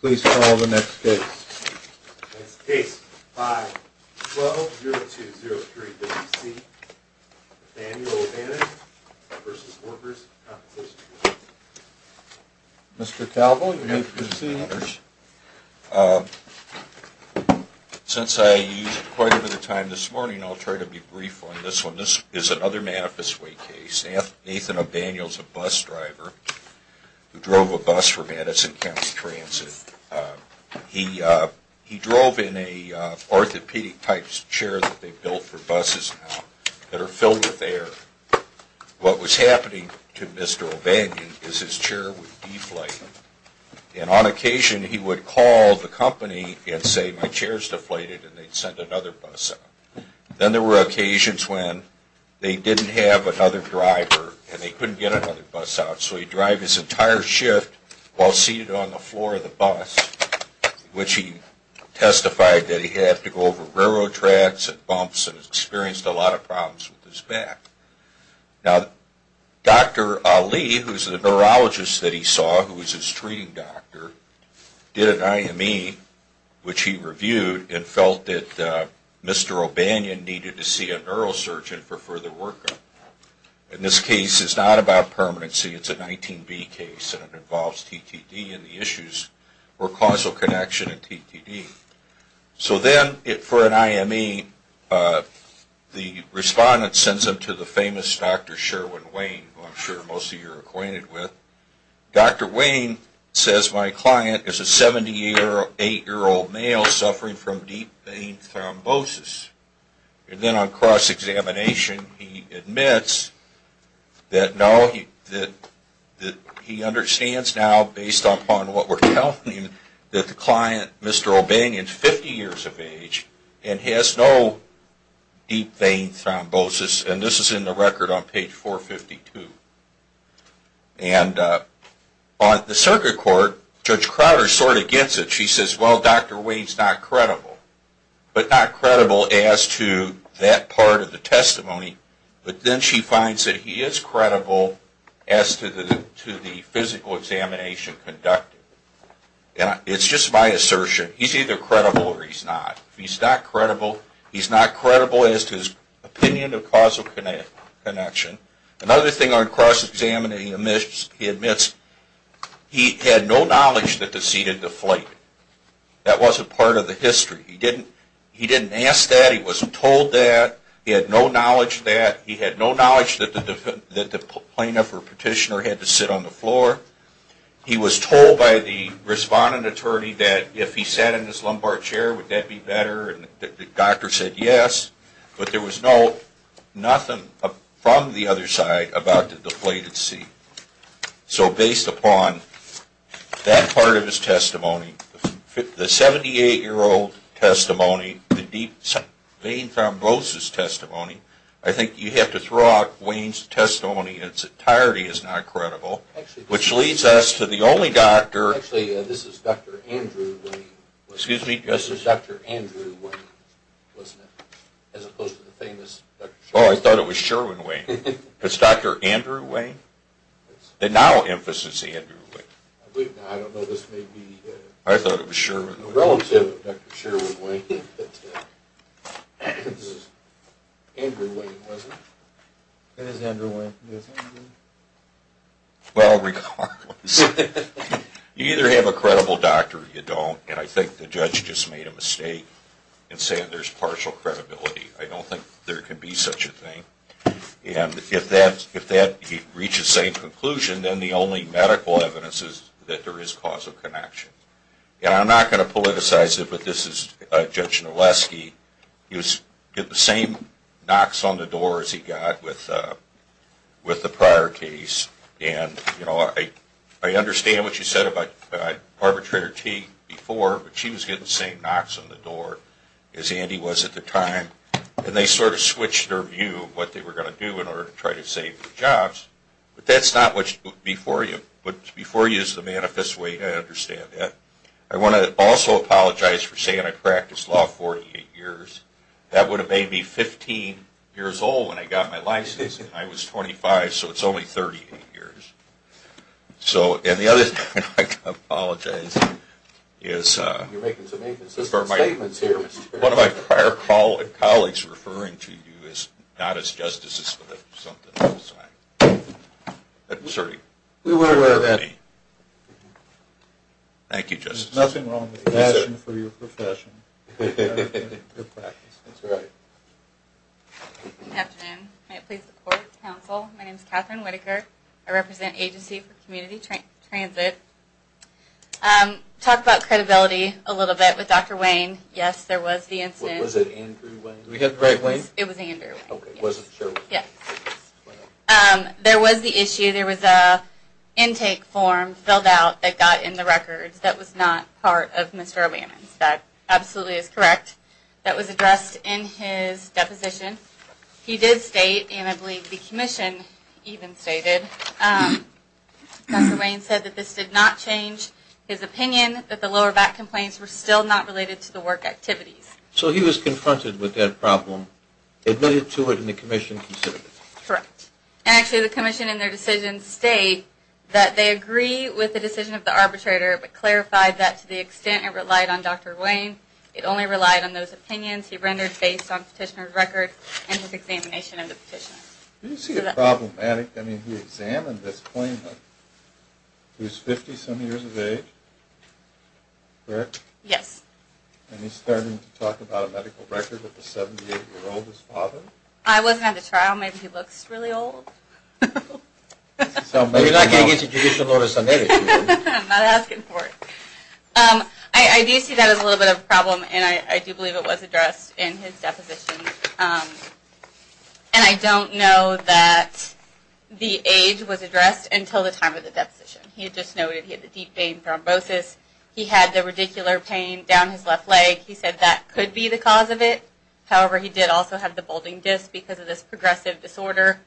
Please call the next case. Next case, 5-12-0203-WC, Nathaniel O'Bannon v. Workers' Compensation Comm'n Mr. Calvo, you may proceed. Since I used quite a bit of time this morning, I'll try to be brief on this one. This is another Manifest Way case. Nathan O'Bannon is a bus driver who drove a bus for Madison County Transit. He drove in an orthopedic-type chair that they built for buses now that are filled with air. What was happening to Mr. O'Bannon is his chair would deflate, and on occasion he would call the company and say, My chair's deflated, and they'd send another bus out. Then there were occasions when they didn't have another driver and they couldn't get another bus out, so he'd drive his entire shift while seated on the floor of the bus, which he testified that he had to go over railroad tracks and bumps and experienced a lot of problems with his back. Now, Dr. Ali, who's the neurologist that he saw, who was his treating doctor, did an IME, which he reviewed, and felt that Mr. O'Bannon needed to see a neurosurgeon for further workup. And this case is not about permanency. It's a 19B case, and it involves TTD and the issues or causal connection in TTD. So then, for an IME, the respondent sends him to the famous Dr. Sherwin Wayne, who I'm sure most of you are acquainted with. Dr. Wayne says, My client is a 70-year-old, 8-year-old male suffering from deep vein thrombosis. And then on cross-examination, he admits that he understands now, based upon what we're telling him, that the client, Mr. O'Bannon, is 50 years of age and has no deep vein thrombosis. And this is in the record on page 452. And on the circuit court, Judge Crowder sort of gets it. She says, Well, Dr. Wayne's not credible. But not credible as to that part of the testimony. But then she finds that he is credible as to the physical examination conducted. It's just my assertion. He's either credible or he's not. If he's not credible, he's not credible as to his opinion of causal connection. Another thing on cross-examination he admits, he had no knowledge that the seat had deflated. That wasn't part of the history. He didn't ask that. He wasn't told that. He had no knowledge of that. He had no knowledge that the plaintiff or petitioner had to sit on the floor. He was told by the responding attorney that if he sat in his lumbar chair, would that be better? And the doctor said yes. But there was nothing from the other side about the deflated seat. So based upon that part of his testimony, the 78-year-old testimony, the deep vein thrombosis testimony, I think you have to throw out Wayne's testimony in its entirety as not credible, which leads us to the only doctor. Actually, this is Dr. Andrew Wayne. Excuse me? This is Dr. Andrew Wayne, wasn't it? As opposed to the famous Dr. Sherwin-Wayne. Oh, I thought it was Sherwin-Wayne. It's Dr. Andrew Wayne? The now-emphasis Andrew Wayne. I don't know. This may be a relative of Dr. Sherwin-Wayne. Andrew Wayne, was it? It is Andrew Wayne. Well, regardless, you either have a credible doctor or you don't, and I think the judge just made a mistake in saying there's partial credibility. I don't think there can be such a thing. And if that reaches the same conclusion, then the only medical evidence is that there is causal connection. And I'm not going to politicize it, but this is Judge Nolesky. He was getting the same knocks on the door as he got with the prior case. And I understand what you said about Arbitrator T before, but she was getting the same knocks on the door as Andy was at the time, and they sort of switched their view of what they were going to do in order to try to save the jobs. But that's not what's before you. What's before you is the manifest way I understand that. I want to also apologize for saying I practiced law 48 years. That would have made me 15 years old when I got my license, and I was 25, so it's only 38 years. And the other thing I'd like to apologize for is one of my prior colleagues referring to you as not as justices for something else. I'm sorry. We were aware of that. Thank you, Justice. There's nothing wrong with passion for your profession. Good practice. That's right. Good afternoon. May it please the Court, Counsel. My name is Catherine Whitaker. I represent Agency for Community Transit. Talked about credibility a little bit with Dr. Wayne. Yes, there was the incident. Was it Andrew Wayne? It was Andrew Wayne. Okay, wasn't sure. Yes. There was the issue. There was an intake form filled out that got in the records that was not part of Mr. O'Bannon's. That absolutely is correct. That was addressed in his deposition. He did state, and I believe the commission even stated, Dr. Wayne said that this did not change his opinion, that the lower back complaints were still not related to the work activities. So he was confronted with that problem, admitted to it, and the commission considered it. Correct. And actually the commission in their decision state that they agree with the decision of the arbitrator, but clarified that to the extent it relied on Dr. Wayne, it only relied on those opinions he rendered based on petitioner's record and his examination of the petition. Do you see it problematic? I mean, he examined this claimant. He was 50-some years of age. Correct? Yes. And he's starting to talk about a medical record of a 78-year-old's father? I wasn't at the trial. Maybe he looks really old. You're not going against the judicial orders, are you? I'm not asking for it. I do see that as a little bit of a problem, and I do believe it was addressed in his deposition. And I don't know that the age was addressed until the time of the deposition. He just noted he had the deep vein thrombosis. He had the radicular pain down his left leg. He said that could be the cause of it. However, he did also have the bulging disc because of this progressive disorder,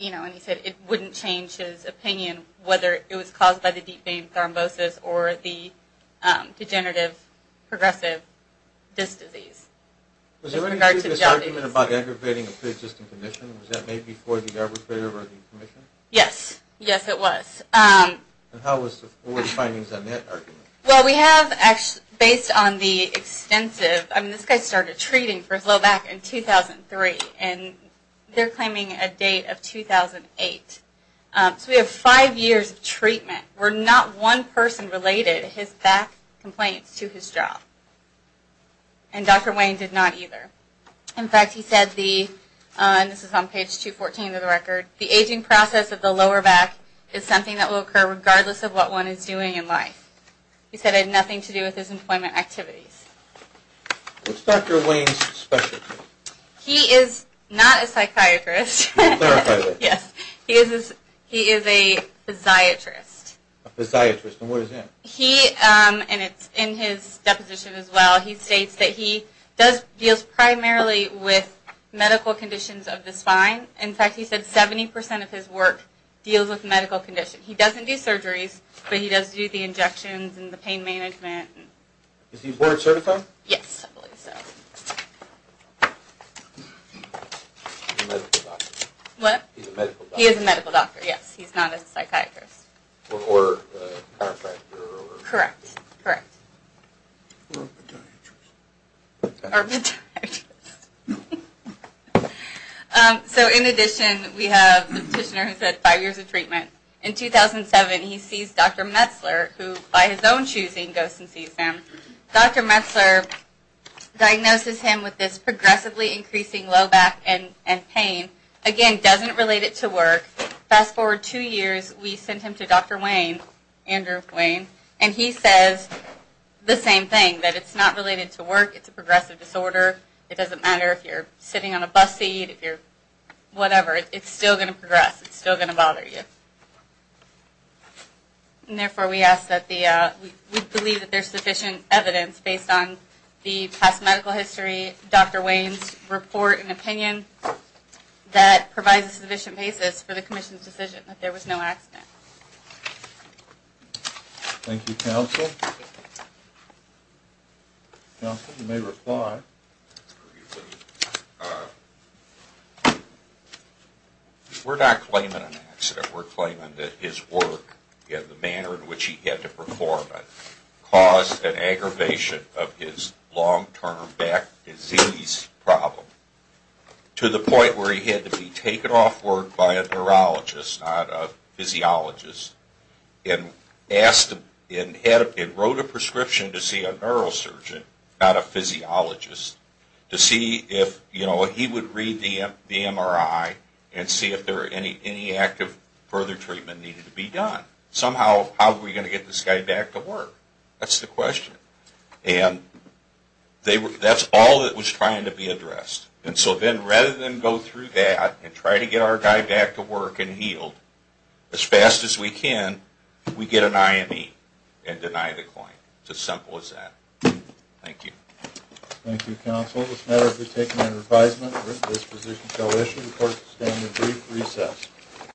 and he said it wouldn't change his opinion whether it was caused by the deep vein thrombosis or the degenerative progressive disc disease. Was there any previous argument about aggravating a pre-existing condition? Was that made before the arbitrator or the commission? Yes. Yes, it was. And what were the findings on that argument? Well, we have, based on the extensive – I mean, this guy started treating for his low back in 2003, and they're claiming a date of 2008. So we have five years of treatment. Where not one person related his back complaints to his job. And Dr. Wayne did not either. In fact, he said the – and this is on page 214 of the record – the aging process of the lower back is something that will occur regardless of what one is doing in life. He said it had nothing to do with his employment activities. What's Dr. Wayne's specialty? He is not a psychiatrist. Clarify that. Yes. He is a physiatrist. A physiatrist. And what is that? He – and it's in his deposition as well – he states that he does – deals primarily with medical conditions of the spine. In fact, he said 70% of his work deals with medical conditions. He doesn't do surgeries, but he does do the injections and the pain management. Is he board certified? Yes, I believe so. He's a medical doctor. What? He's a medical doctor. He is a medical doctor, yes. He's not a psychiatrist. Or a chiropractor. Correct. Correct. Or a podiatrist. Or a podiatrist. So in addition, we have the petitioner who said five years of treatment. In 2007, he sees Dr. Metzler, who by his own choosing goes and sees him. Dr. Metzler diagnoses him with this progressively increasing low back and pain. Again, doesn't relate it to work. Fast forward two years, we sent him to Dr. Wayne, Andrew Wayne, and he says the same thing, that it's not related to work. It's a progressive disorder. It doesn't matter if you're sitting on a bus seat, if you're whatever. It's still going to progress. It's still going to bother you. And therefore, we believe that there's sufficient evidence based on the past medical history, Dr. Wayne's report and opinion, that provides a sufficient basis for the commission's decision that there was no accident. Thank you, counsel. Counsel, you may reply. We're not claiming an accident. We're claiming that his work and the manner in which he had to perform it caused an aggravation of his long-term back disease problem to the point where he had to be taken off work by a neurologist, not a physiologist, and wrote a prescription to see a neurosurgeon, not a physiologist, to see if he would read the MRI and see if any active further treatment needed to be done. Somehow, how are we going to get this guy back to work? That's the question. And that's all that was trying to be addressed. And so then, rather than go through that and try to get our guy back to work and healed, as fast as we can, we get an IME and deny the claim. It's as simple as that. Thank you. Thank you, counsel. This matter has been taken under advisement. This position shall issue the court's standing brief recess.